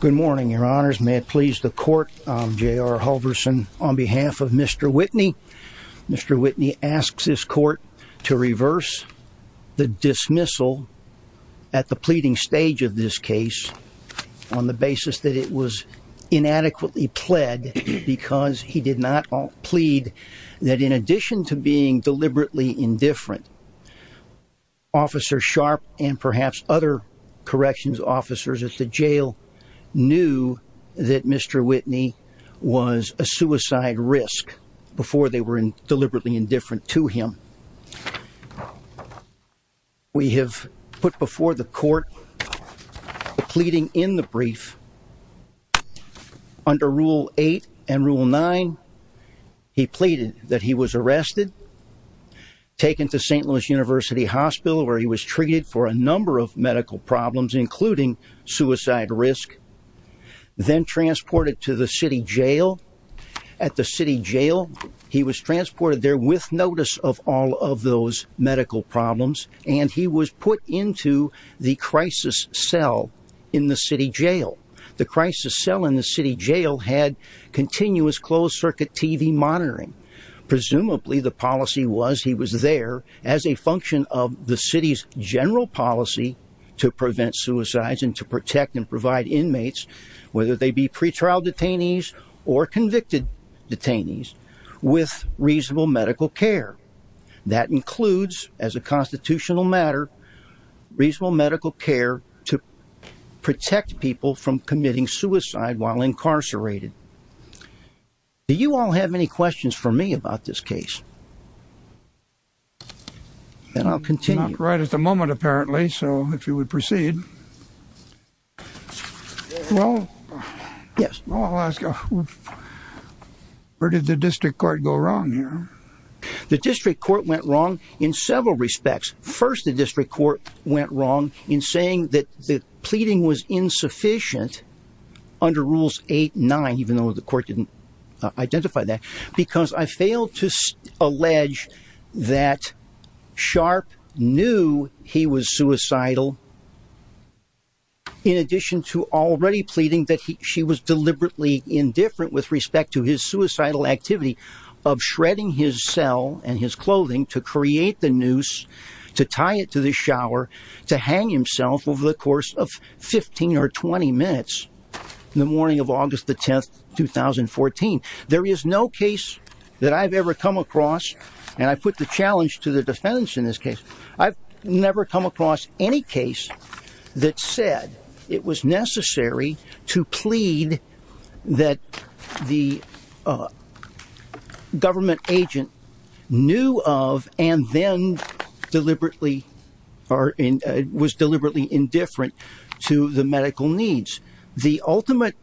Good morning, Your Honors. May it please the Court, J.R. Hulverson, on behalf of Mr. Whitney. Mr. Whitney asks this Court to reverse the dismissal at the pleading stage of this case on the basis that it was inadequately pled because he did not plead that in addition to being deliberately indifferent Officer Sharp and perhaps other corrections officers at the jail knew that Mr. Whitney was a suicide risk before they were deliberately indifferent to him. We have put before the Court the pleading in the brief. Under Rule 8 and Rule 9, he pleaded that he was arrested, taken to St. Louis University Hospital where he was treated for a number of medical problems including suicide risk, then transported to the city jail. At the city jail, he was transported there with notice of all of those medical problems and he was put into the crisis cell in the city jail. The crisis cell in the city jail had continuous closed-circuit TV monitoring. Presumably, the policy was he was there as a function of the city's general policy to prevent suicides and to protect and provide inmates, whether they be pretrial detainees or convicted detainees, with reasonable medical care. That includes, as a constitutional matter, reasonable medical care to protect people from committing suicide while incarcerated. Do you all have any questions for me about this case? And I'll continue. Not right at the moment apparently, so if you would proceed. Well, I'll ask, where did the District Court go wrong here? The District Court went wrong in several respects. First, the District Court went wrong in saying that the pleading was insufficient under Rules 8 and 9, even though the court didn't identify that, because I failed to allege that Sharp knew he was suicidal. In addition to already pleading that she was deliberately indifferent with respect to his suicidal activity of shredding his cell and his clothing to create the noose, to tie it to the shower, to hang himself over the course of 15 or 20 minutes in the morning of August 10, 2014. There is no case that I've ever come across, and I put the challenge to the defense in this case, I've never come across any case that said it was necessary to plead that the government agent knew of and then was deliberately indifferent to the medical needs. The ultimate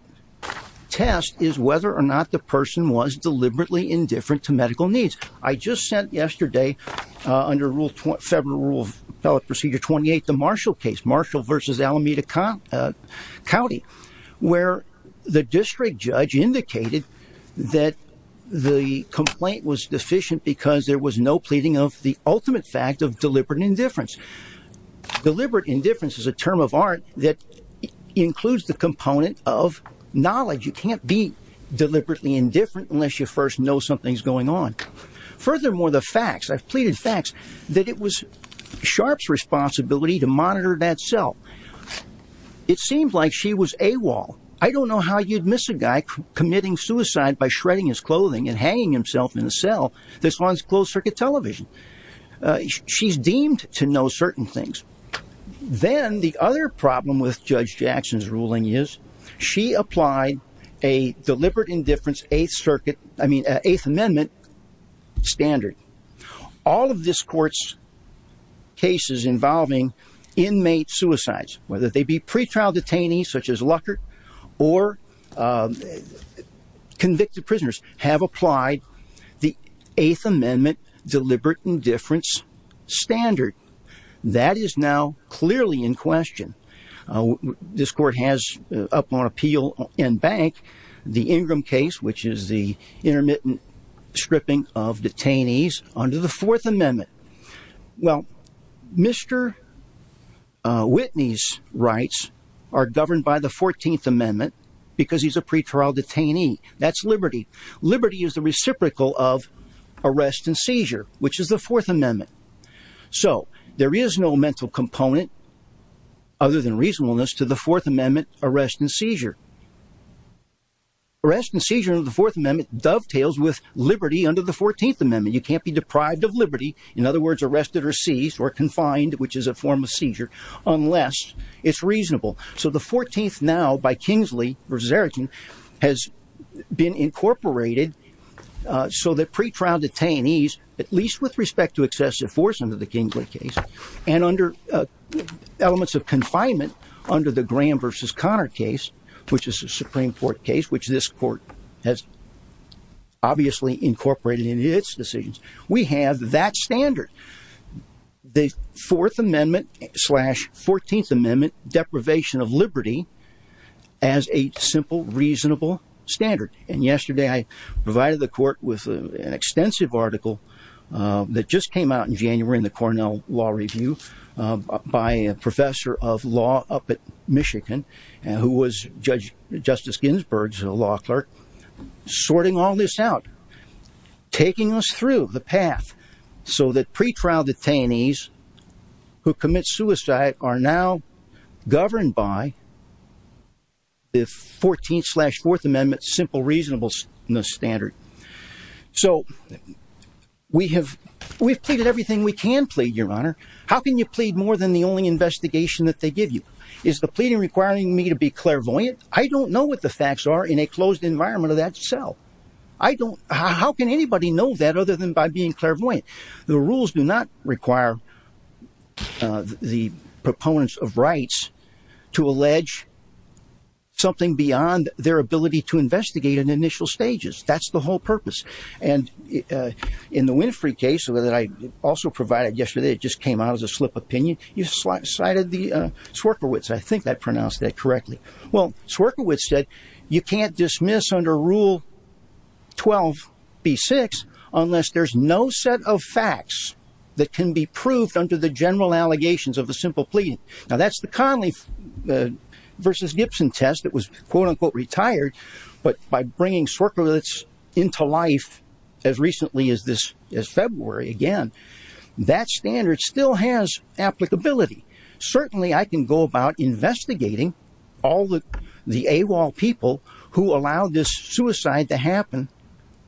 test is whether or not the person was deliberately indifferent to medical needs. I just sent yesterday, under Federal Rule of Appellate Procedure 28, the Marshall case, Marshall v. Alameda County, where the district judge indicated that the complaint was deficient because there was no pleading of the ultimate fact of deliberate indifference. Deliberate indifference is a term of art that includes the component of knowledge. You can't be deliberately indifferent unless you first know something's going on. Furthermore, the facts, I've pleaded facts that it was Sharpe's responsibility to monitor that cell. It seemed like she was AWOL. I don't know how you'd miss a guy committing suicide by shredding his clothing and hanging himself in a cell. This was on closed-circuit television. She's deemed to know certain things. Then the other problem with Judge Jackson's ruling is she applied a deliberate indifference Eighth Amendment standard. All of this court's cases involving inmate suicides, whether they be pretrial detainees such as Luckert or convicted prisoners, have applied the Eighth Amendment deliberate indifference standard. That is now clearly in question. This court has, upon appeal in bank, the Ingram case, which is the intermittent stripping of detainees under the Fourth Amendment. Well, Mr. Whitney's rights are governed by the 14th Amendment because he's a pretrial detainee. That's liberty. Liberty is the reciprocal of arrest and seizure, which is the Fourth Amendment. So there is no mental component other than reasonableness to the Fourth Amendment arrest and seizure. Arrest and seizure under the Fourth Amendment dovetails with liberty under the 14th Amendment. You can't be deprived of liberty. In other words, arrested or seized or confined, which is a form of seizure, unless it's reasonable. So the 14th now by Kingsley versus Erickson has been incorporated so that pretrial detainees, at least with respect to excessive force under the Kingsley case and under elements of confinement under the Graham versus Connor case, which is a Supreme Court case, which this court has obviously incorporated in its decisions. We have that standard. The Fourth Amendment slash 14th Amendment deprivation of liberty as a simple, reasonable standard. And yesterday I provided the court with an extensive article that just came out in January in the Cornell Law Review by a professor of law up at Michigan, who was Judge Justice Ginsburg's law clerk, sorting all this out, taking us through the path so that pretrial detainees who commit suicide are now governed by the 14th slash Fourth Amendment simple reasonableness standard. So we have we've pleaded everything we can plead, Your Honor. How can you plead more than the only investigation that they give you? Is the pleading requiring me to be clairvoyant? I don't know what the facts are in a closed environment of that cell. I don't. How can anybody know that other than by being clairvoyant? The rules do not require the proponents of rights to allege something beyond their ability to investigate in initial stages. That's the whole purpose. And in the Winfrey case that I also provided yesterday, it just came out as a slip of opinion. You cited the Swierkiewicz. I think that pronounced that correctly. Well, Swierkiewicz said you can't dismiss under Rule 12B6 unless there's no set of facts that can be proved under the general allegations of a simple plea. Now, that's the Conley versus Gibson test that was, quote unquote, retired. But by bringing Swierkiewicz into life as recently as this February, again, that standard still has applicability. Certainly, I can go about investigating all the AWOL people who allowed this suicide to happen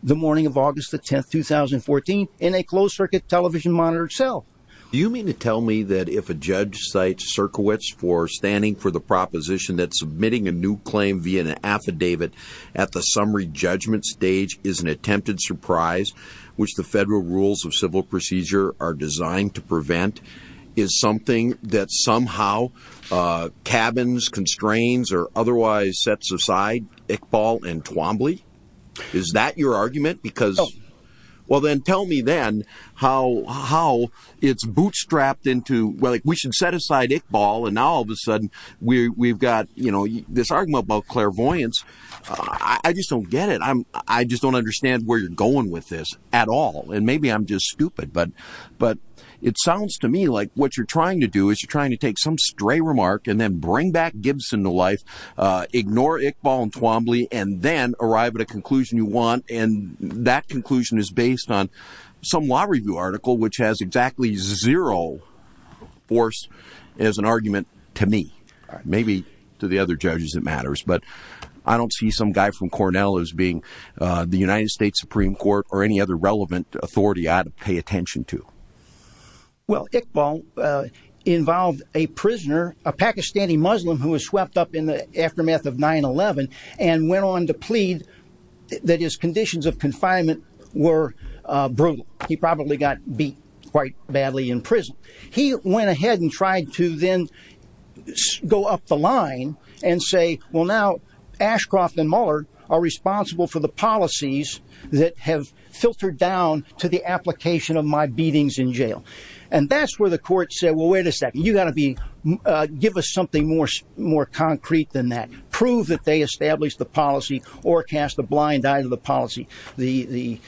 the morning of August the 10th, 2014, in a closed circuit television monitor cell. Do you mean to tell me that if a judge cites Swierkiewicz for standing for the proposition that submitting a new claim via an affidavit at the summary judgment stage is an attempted surprise, which the federal rules of civil procedure are designed to prevent, is something that somehow cabins, constraints, or otherwise sets aside Iqbal and Twombly? Is that your argument? Well, then tell me then how it's bootstrapped into, well, we should set aside Iqbal, and now all of a sudden we've got this argument about clairvoyance. I just don't get it. I just don't understand where you're going with this at all. And maybe I'm just stupid, but it sounds to me like what you're trying to do is you're trying to take some stray remark and then bring back Gibson to life, ignore Iqbal and Twombly, and then arrive at a conclusion you want. And that conclusion is based on some law review article, which has exactly zero force as an argument to me, maybe to the other judges that matters. But I don't see some guy from Cornell as being the United States Supreme Court or any other relevant authority I ought to pay attention to. Well, Iqbal involved a prisoner, a Pakistani Muslim who was swept up in the aftermath of 9-11 and went on to plead that his conditions of confinement were brutal. He probably got beat quite badly in prison. He went ahead and tried to then go up the line and say, well, now Ashcroft and Mullard are responsible for the policies that have filtered down to the application of my beatings in jail. And that's where the court said, well, wait a second, you've got to give us something more concrete than that. Prove that they established the policy or cast a blind eye to the policy, the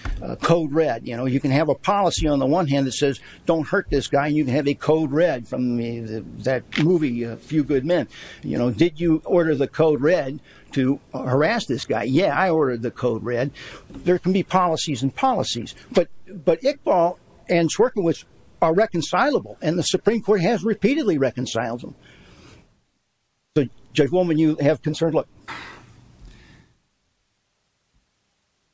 code red. You can have a policy on the one hand that says, don't hurt this guy. And you can have a code red from that movie A Few Good Men. Did you order the code red to harass this guy? Yeah, I ordered the code red. There can be policies and policies. But Iqbal and Twombly are reconcilable. And the Supreme Court has repeatedly reconciled them. Judge Woolman, you have concerns?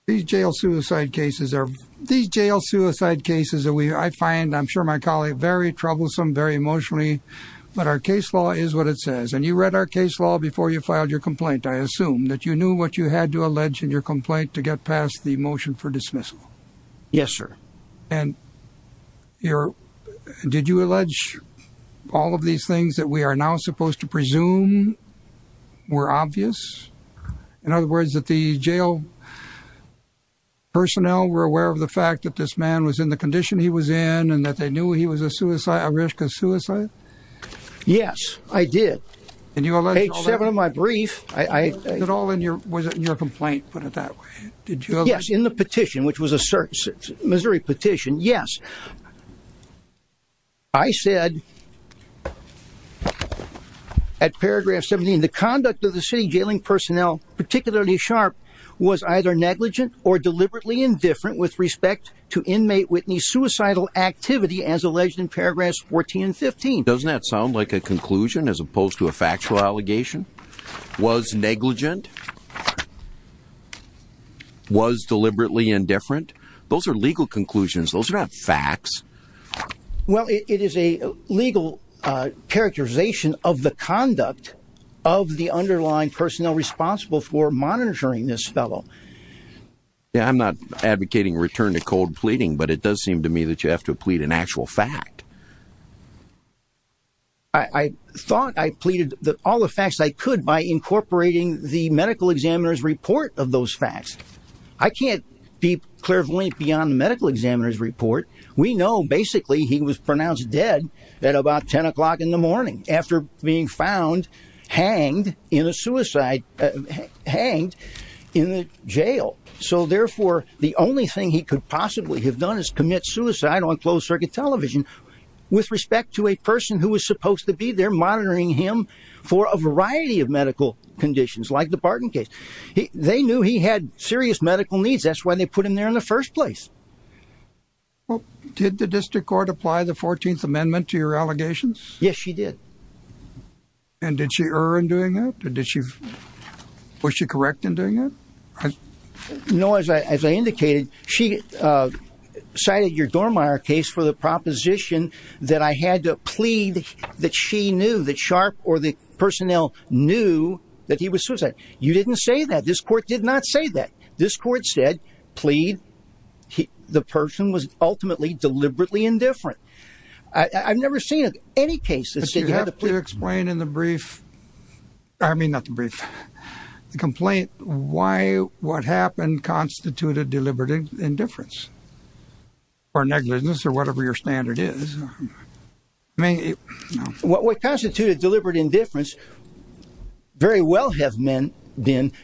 These jail suicide cases are these jail suicide cases that I find, I'm sure my colleague, very troublesome, very emotionally. But our case law is what it says. And you read our case law before you filed your complaint. I assume that you knew what you had to allege in your complaint to get past the motion for dismissal. Yes, sir. And did you allege all of these things that we are now supposed to presume were obvious? In other words, that the jail personnel were aware of the fact that this man was in the condition he was in and that they knew he was at risk of suicide? Yes, I did. And you allege all that? Page seven of my brief. Was it all in your complaint, put it that way? Yes, in the petition, which was a Missouri petition, yes. I said at paragraph 17, the conduct of the city jailing personnel, particularly Sharp, was either negligent or deliberately indifferent with respect to inmate Whitney's suicidal activity as alleged in paragraphs 14 and 15. Doesn't that sound like a conclusion as opposed to a factual allegation? Was negligent? Was deliberately indifferent? Those are legal conclusions. Those are not facts. Well, it is a legal characterization of the conduct of the underlying personnel responsible for monitoring this fellow. Yeah, I'm not advocating return to cold pleading, but it does seem to me that you have to plead an actual fact. I thought I pleaded all the facts I could by incorporating the medical examiner's report of those facts. I can't be clear of link beyond the medical examiner's report. We know basically he was pronounced dead at about 10 o'clock in the morning after being found hanged in a suicide hanged in jail. So, therefore, the only thing he could possibly have done is commit suicide on closed circuit television with respect to a person who was supposed to be there monitoring him for a variety of medical conditions like the Barton case. They knew he had serious medical needs. That's why they put him there in the first place. Did the district court apply the 14th Amendment to your allegations? Yes, she did. And did she err in doing that? Was she correct in doing that? No, as I indicated, she cited your Dormeyer case for the proposition that I had to plead that she knew that Sharp or the personnel knew that he was suicide. You didn't say that. This court did not say that. This court said, plead. The person was ultimately deliberately indifferent. I've never seen any case that said you had to plead. Could you explain in the brief, I mean not the brief, the complaint why what happened constituted deliberate indifference or negligence or whatever your standard is? What constituted deliberate indifference very well have been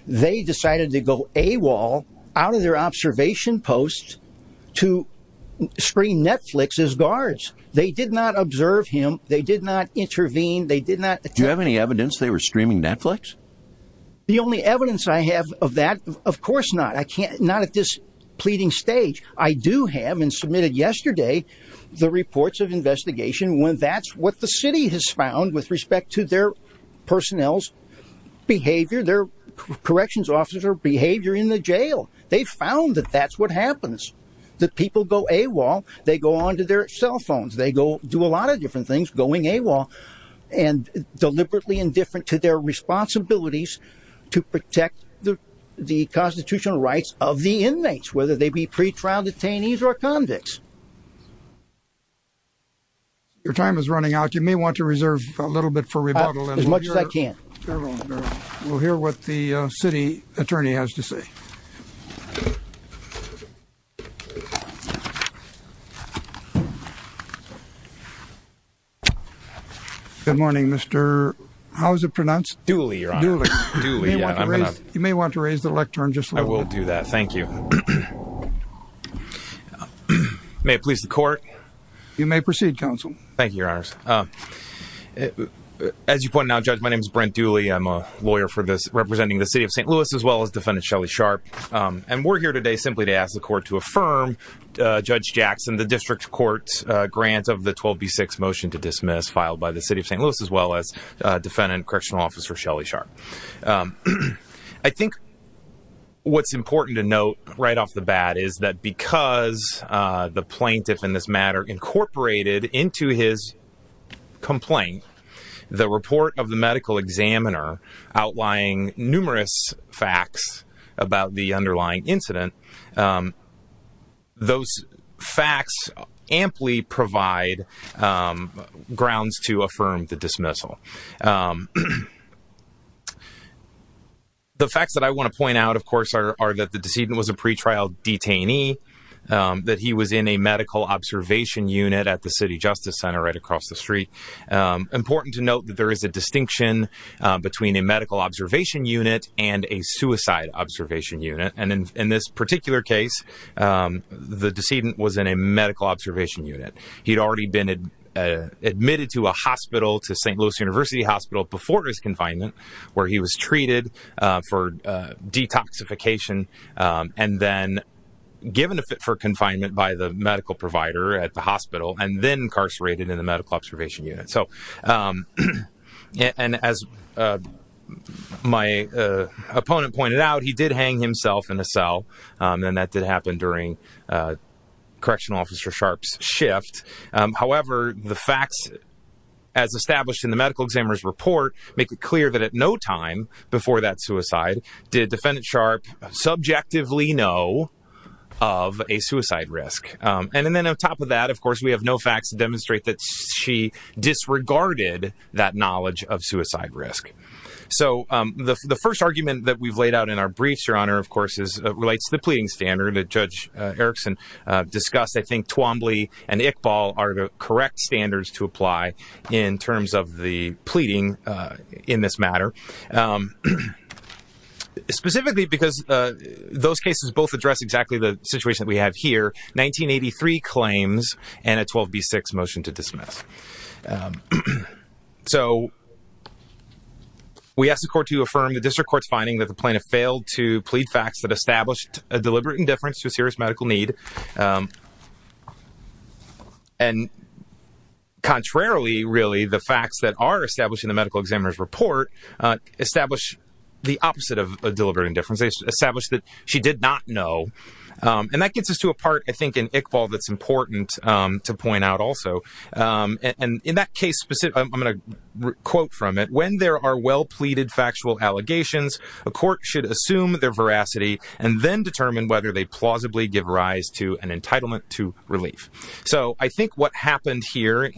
they decided to go AWOL out of their observation post to screen Netflix as guards. They did not observe him. They did not intervene. They did not. Do you have any evidence they were streaming Netflix? The only evidence I have of that. Of course not. I can't not at this pleading stage. I do have and submitted yesterday the reports of investigation when that's what the city has found with respect to their personnel's behavior, their corrections officer behavior in the jail. They found that that's what happens. The people go AWOL. They go on to their cell phones. They go do a lot of different things going AWOL and deliberately indifferent to their responsibilities to protect the constitutional rights of the inmates, whether they be pretrial detainees or convicts. Your time is running out. You may want to reserve a little bit for rebuttal as much as I can. We'll hear what the city attorney has to say. Good morning, Mr. How's it pronounced? Duly, Your Honor. Duly. You may want to raise the lectern just a little bit. I will do that. Thank you. You may proceed, counsel. Thank you, Your Honor. As you point out, Judge, my name is Brent Duly. I'm a lawyer representing the city of St. Louis as well as Defendant Shelley Sharp. And we're here today simply to ask the court to affirm, Judge Jackson, the district court's grant of the 12B6 motion to dismiss filed by the city of St. Louis as well as Defendant Correctional Officer Shelley Sharp. I think what's important to note right off the bat is that because the plaintiff in this matter incorporated into his complaint the report of the medical examiner outlying numerous facts about the underlying incident, those facts amply provide grounds to affirm the dismissal. The facts that I want to point out, of course, are that the decedent was a pretrial detainee, that he was in a medical observation unit at the city justice center right across the street. Important to note that there is a distinction between a medical observation unit and a suicide observation unit. And in this particular case, the decedent was in a medical observation unit. He'd already been admitted to a hospital, to St. Louis University Hospital, before his confinement where he was treated for detoxification and then given for confinement by the medical provider at the hospital and then incarcerated in the medical observation unit. And as my opponent pointed out, he did hang himself in a cell and that did happen during Correctional Officer Sharp's shift. However, the facts as established in the medical examiner's report make it clear that at no time before that suicide did Defendant Sharp subjectively know of a suicide risk. And then on top of that, of course, we have no facts to demonstrate that she disregarded that knowledge of suicide risk. So the first argument that we've laid out in our briefs, Your Honor, of course, relates to the pleading standard that Judge Erickson discussed. I think Twombly and Iqbal are the correct standards to apply in terms of the pleading in this matter. Specifically because those cases both address exactly the situation that we have here, 1983 claims and a 12B6 motion to dismiss. So we asked the court to affirm the district court's finding that the plaintiff failed to plead facts that established a deliberate indifference to a serious medical need. And contrarily, really, the facts that are established in the medical examiner's report establish the opposite of a deliberate indifference. They establish that she did not know. And that gets us to a part, I think, in Iqbal that's important to point out also. And in that case, I'm going to quote from it. When there are well-pleaded factual allegations, a court should assume their veracity and then determine whether they plausibly give rise to an entitlement to relief. So I think what happened here,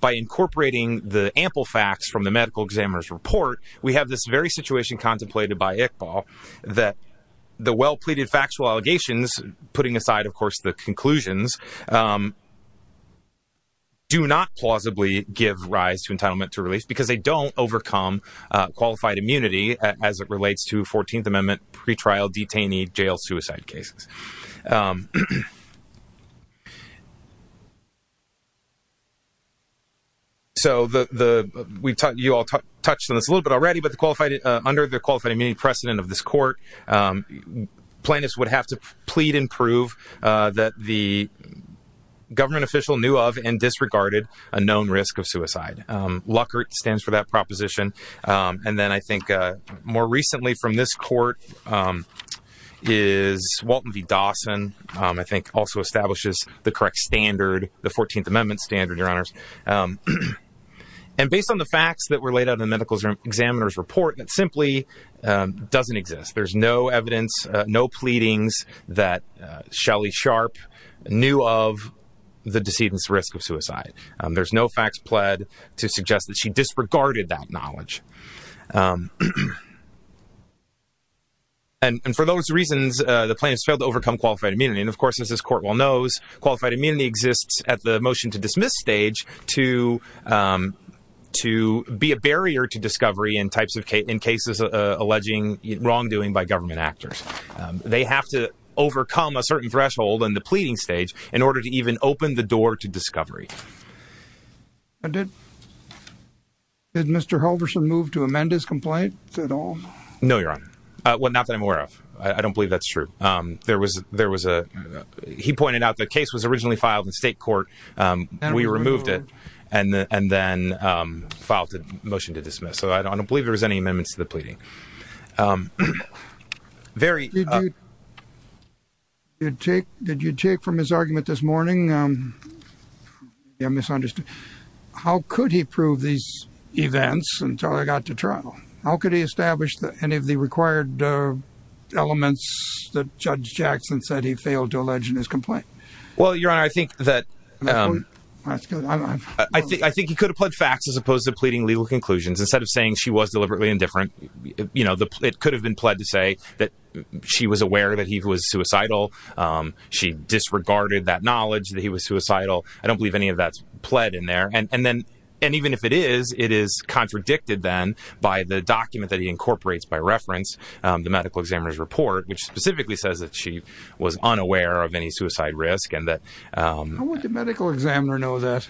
by incorporating the ample facts from the medical examiner's report, we have this very situation contemplated by Iqbal that the well-pleaded factual allegations, putting aside, of course, the conclusions, do not plausibly give rise to entitlement to relief because they don't overcome qualified immunity as it relates to 14th Amendment pretrial detainee jail suicide cases. So you all touched on this a little bit already, but under the qualified immunity precedent of this court, plaintiffs would have to plead and prove that the government official knew of and disregarded a known risk of suicide. LUCERT stands for that proposition. And then I think more recently from this court is Walton v. Dawson, I think also establishes the correct standard, the 14th Amendment standard, Your Honors. And based on the facts that were laid out in the medical examiner's report, it simply doesn't exist. There's no evidence, no pleadings that Shelly Sharp knew of the decedent's risk of suicide. There's no facts pled to suggest that she disregarded that knowledge. And for those reasons, the plaintiffs failed to overcome qualified immunity. And, of course, as this court well knows, qualified immunity exists at the motion-to-dismiss stage to be a barrier to discovery in types of cases alleging wrongdoing by government actors. They have to overcome a certain threshold in the pleading stage in order to even open the door to discovery. Did Mr. Halverson move to amend his complaint at all? No, Your Honor. Well, not that I'm aware of. I don't believe that's true. There was a – he pointed out the case was originally filed in state court. We removed it and then filed a motion to dismiss. So I don't believe there was any amendments to the pleading. Very – Did you take from his argument this morning – I misunderstood – how could he prove these events until they got to trial? How could he establish any of the required elements that Judge Jackson said he failed to allege in his complaint? Well, Your Honor, I think that – That's good. I think he could have pled facts as opposed to pleading legal conclusions. Instead of saying she was deliberately indifferent, you know, it could have been pled to say that she was aware that he was suicidal. She disregarded that knowledge that he was suicidal. I don't believe any of that's pled in there. And then – and even if it is, it is contradicted then by the document that he incorporates by reference, the medical examiner's report, which specifically says that she was unaware of any suicide risk and that – How would the medical examiner know that?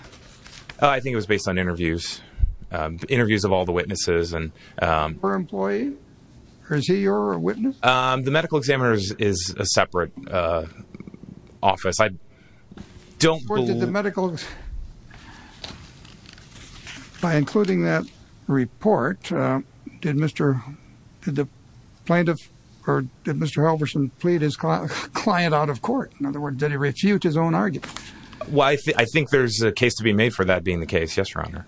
I think it was based on interviews. Interviews of all the witnesses and – Her employee? Is he your witness? The medical examiner is a separate office. I don't believe – By including that report, did Mr. Halverson plead his client out of court? In other words, did he refute his own argument? Well, I think there's a case to be made for that being the case, yes, Your Honor.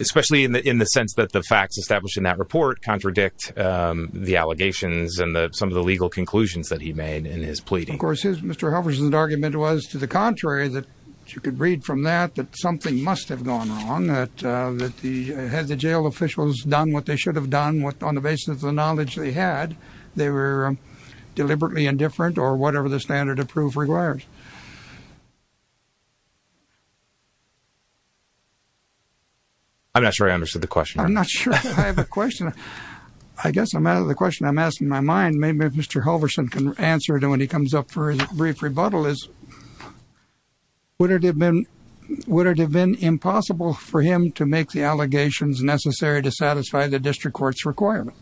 Especially in the sense that the facts established in that report contradict the allegations and some of the legal conclusions that he made in his pleading. Of course, Mr. Halverson's argument was to the contrary, that you could read from that that something must have gone wrong, that he had the jail officials done what they should have done on the basis of the knowledge they had. They were deliberately indifferent or whatever the standard of proof requires. I'm not sure I understood the question, Your Honor. I'm not sure I have a question. I guess the question I'm asking in my mind, maybe if Mr. Halverson can answer it when he comes up for a brief rebuttal, would it have been impossible for him to make the allegations necessary to satisfy the district court's requirement?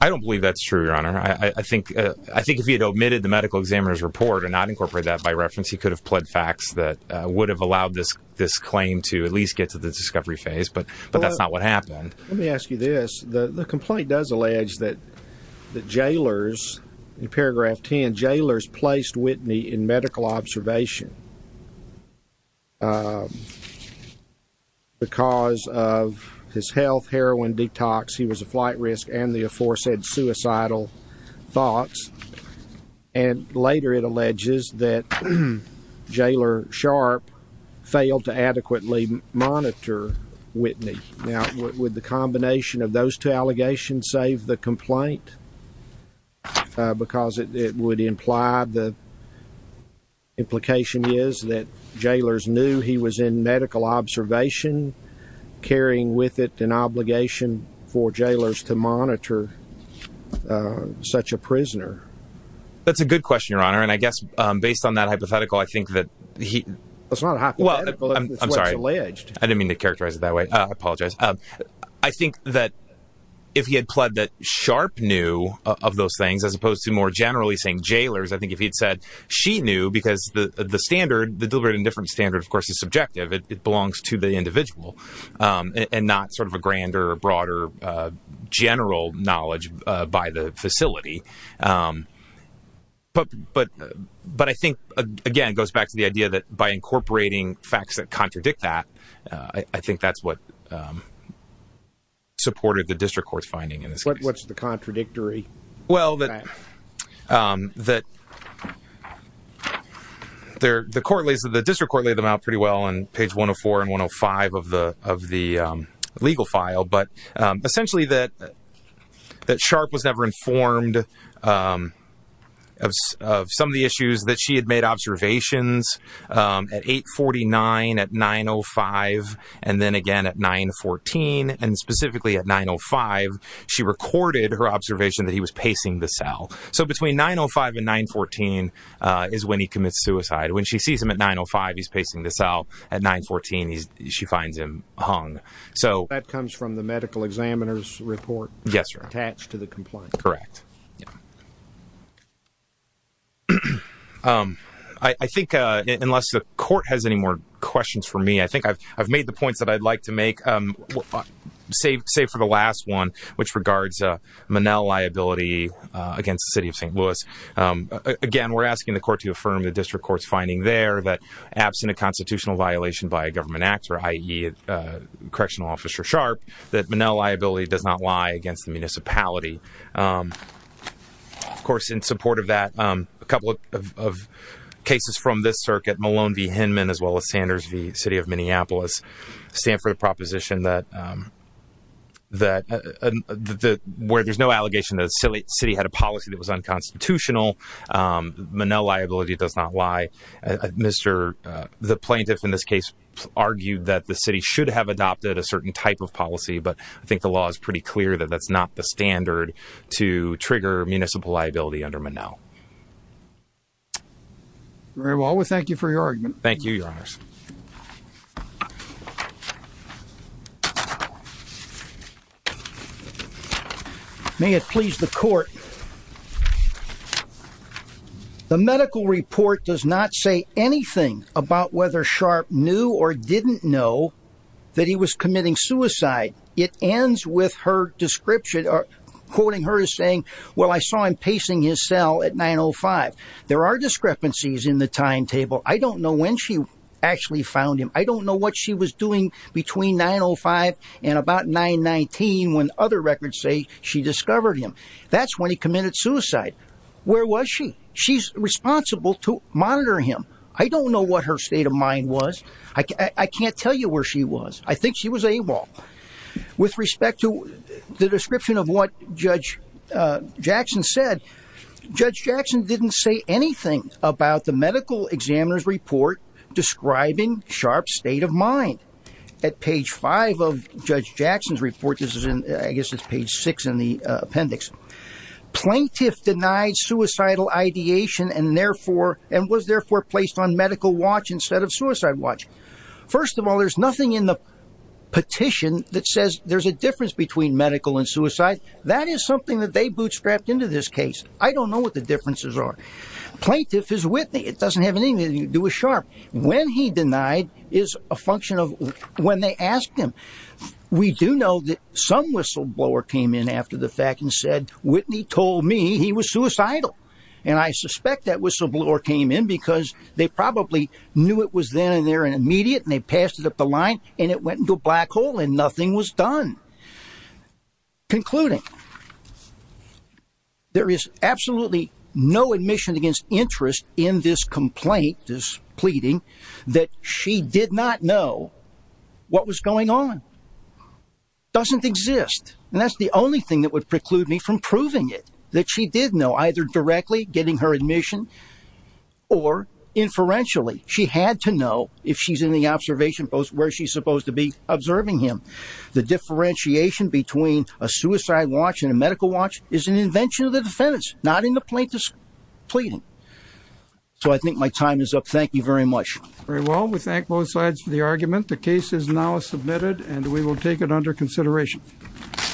I don't believe that's true, Your Honor. I think if he had omitted the medical examiner's report and not incorporated that by reference, he could have pled facts that would have allowed this claim to at least get to the discovery phase, but that's not what happened. Let me ask you this. The complaint does allege that the jailers, in paragraph 10, jailers placed Whitney in medical observation because of his health, heroin detox, he was a flight risk, and the aforesaid suicidal thoughts. And later it alleges that Jailer Sharp failed to adequately monitor Whitney. Now, would the combination of those two allegations save the complaint? Because it would imply the implication is that jailers knew he was in medical observation, carrying with it an obligation for jailers to monitor such a prisoner. That's a good question, Your Honor. And I guess based on that hypothetical, I think that he… I'm sorry. It's what's alleged. I didn't mean to characterize it that way. I apologize. I think that if he had pled that Sharp knew of those things as opposed to more generally saying jailers, I think if he had said she knew because the standard, the deliberate indifference standard, of course, is subjective. It belongs to the individual and not sort of a grander or broader general knowledge by the facility. But I think, again, it goes back to the idea that by incorporating facts that contradict that, I think that's what supported the district court's finding in this case. What's the contradictory fact? Well, the district court laid them out pretty well on page 104 and 105 of the legal file. But essentially that Sharp was never informed of some of the issues that she had made observations. At 8.49, at 9.05, and then again at 9.14, and specifically at 9.05, she recorded her observation that he was pacing the cell. So between 9.05 and 9.14 is when he commits suicide. When she sees him at 9.05, he's pacing the cell. At 9.14, she finds him hung. So that comes from the medical examiner's report? Yes, sir. Attached to the complaint? Correct. I think, unless the court has any more questions for me, I think I've made the points that I'd like to make, save for the last one, which regards Monell liability against the City of St. Louis. Again, we're asking the court to affirm the district court's finding there that, absent a constitutional violation by a government actor, i.e., Correctional Officer Sharp, that Monell liability does not lie against the municipality. Of course, in support of that, a couple of cases from this circuit, Malone v. Hinman, as well as Sanders v. City of Minneapolis, stand for the proposition that, where there's no allegation that the city had a policy that was unconstitutional, Monell liability does not lie. The plaintiff, in this case, argued that the city should have adopted a certain type of policy, but I think the law is pretty clear that that's not the standard to trigger municipal liability under Monell. Very well. We thank you for your argument. Thank you, Your Honors. May it please the court. The medical report does not say anything about whether Sharp knew or didn't know that he was committing suicide. It ends with her description, quoting her as saying, well, I saw him pacing his cell at 905. There are discrepancies in the timetable. I don't know when she actually found him. I don't know what she was doing between 905 and about 919 when other records say she discovered him. That's when he committed suicide. Where was she? She's responsible to monitor him. I don't know what her state of mind was. I can't tell you where she was. I think she was AWOL. With respect to the description of what Judge Jackson said, Judge Jackson didn't say anything about the medical examiner's report describing Sharp's state of mind. At page five of Judge Jackson's report, I guess it's page six in the appendix, plaintiff denied suicidal ideation and was therefore placed on medical watch instead of suicide watch. First of all, there's nothing in the petition that says there's a difference between medical and suicide. That is something that they bootstrapped into this case. I don't know what the differences are. Plaintiff is Whitney. It doesn't have anything to do with Sharp. When he denied is a function of when they asked him. We do know that some whistleblower came in after the fact and said, Whitney told me he was suicidal. And I suspect that whistleblower came in because they probably knew it was then and there and immediate, and they passed it up the line and it went into a black hole and nothing was done. Concluding, there is absolutely no admission against interest in this complaint. This pleading that she did not know what was going on doesn't exist. And that's the only thing that would preclude me from proving it, that she did know, either directly getting her admission or inferentially. She had to know if she's in the observation post where she's supposed to be observing him. The differentiation between a suicide watch and a medical watch is an invention of the defendants, not in the plaintiff's pleading. So I think my time is up. Thank you very much. Very well. We thank both sides for the argument. The case is now submitted and we will take it under consideration.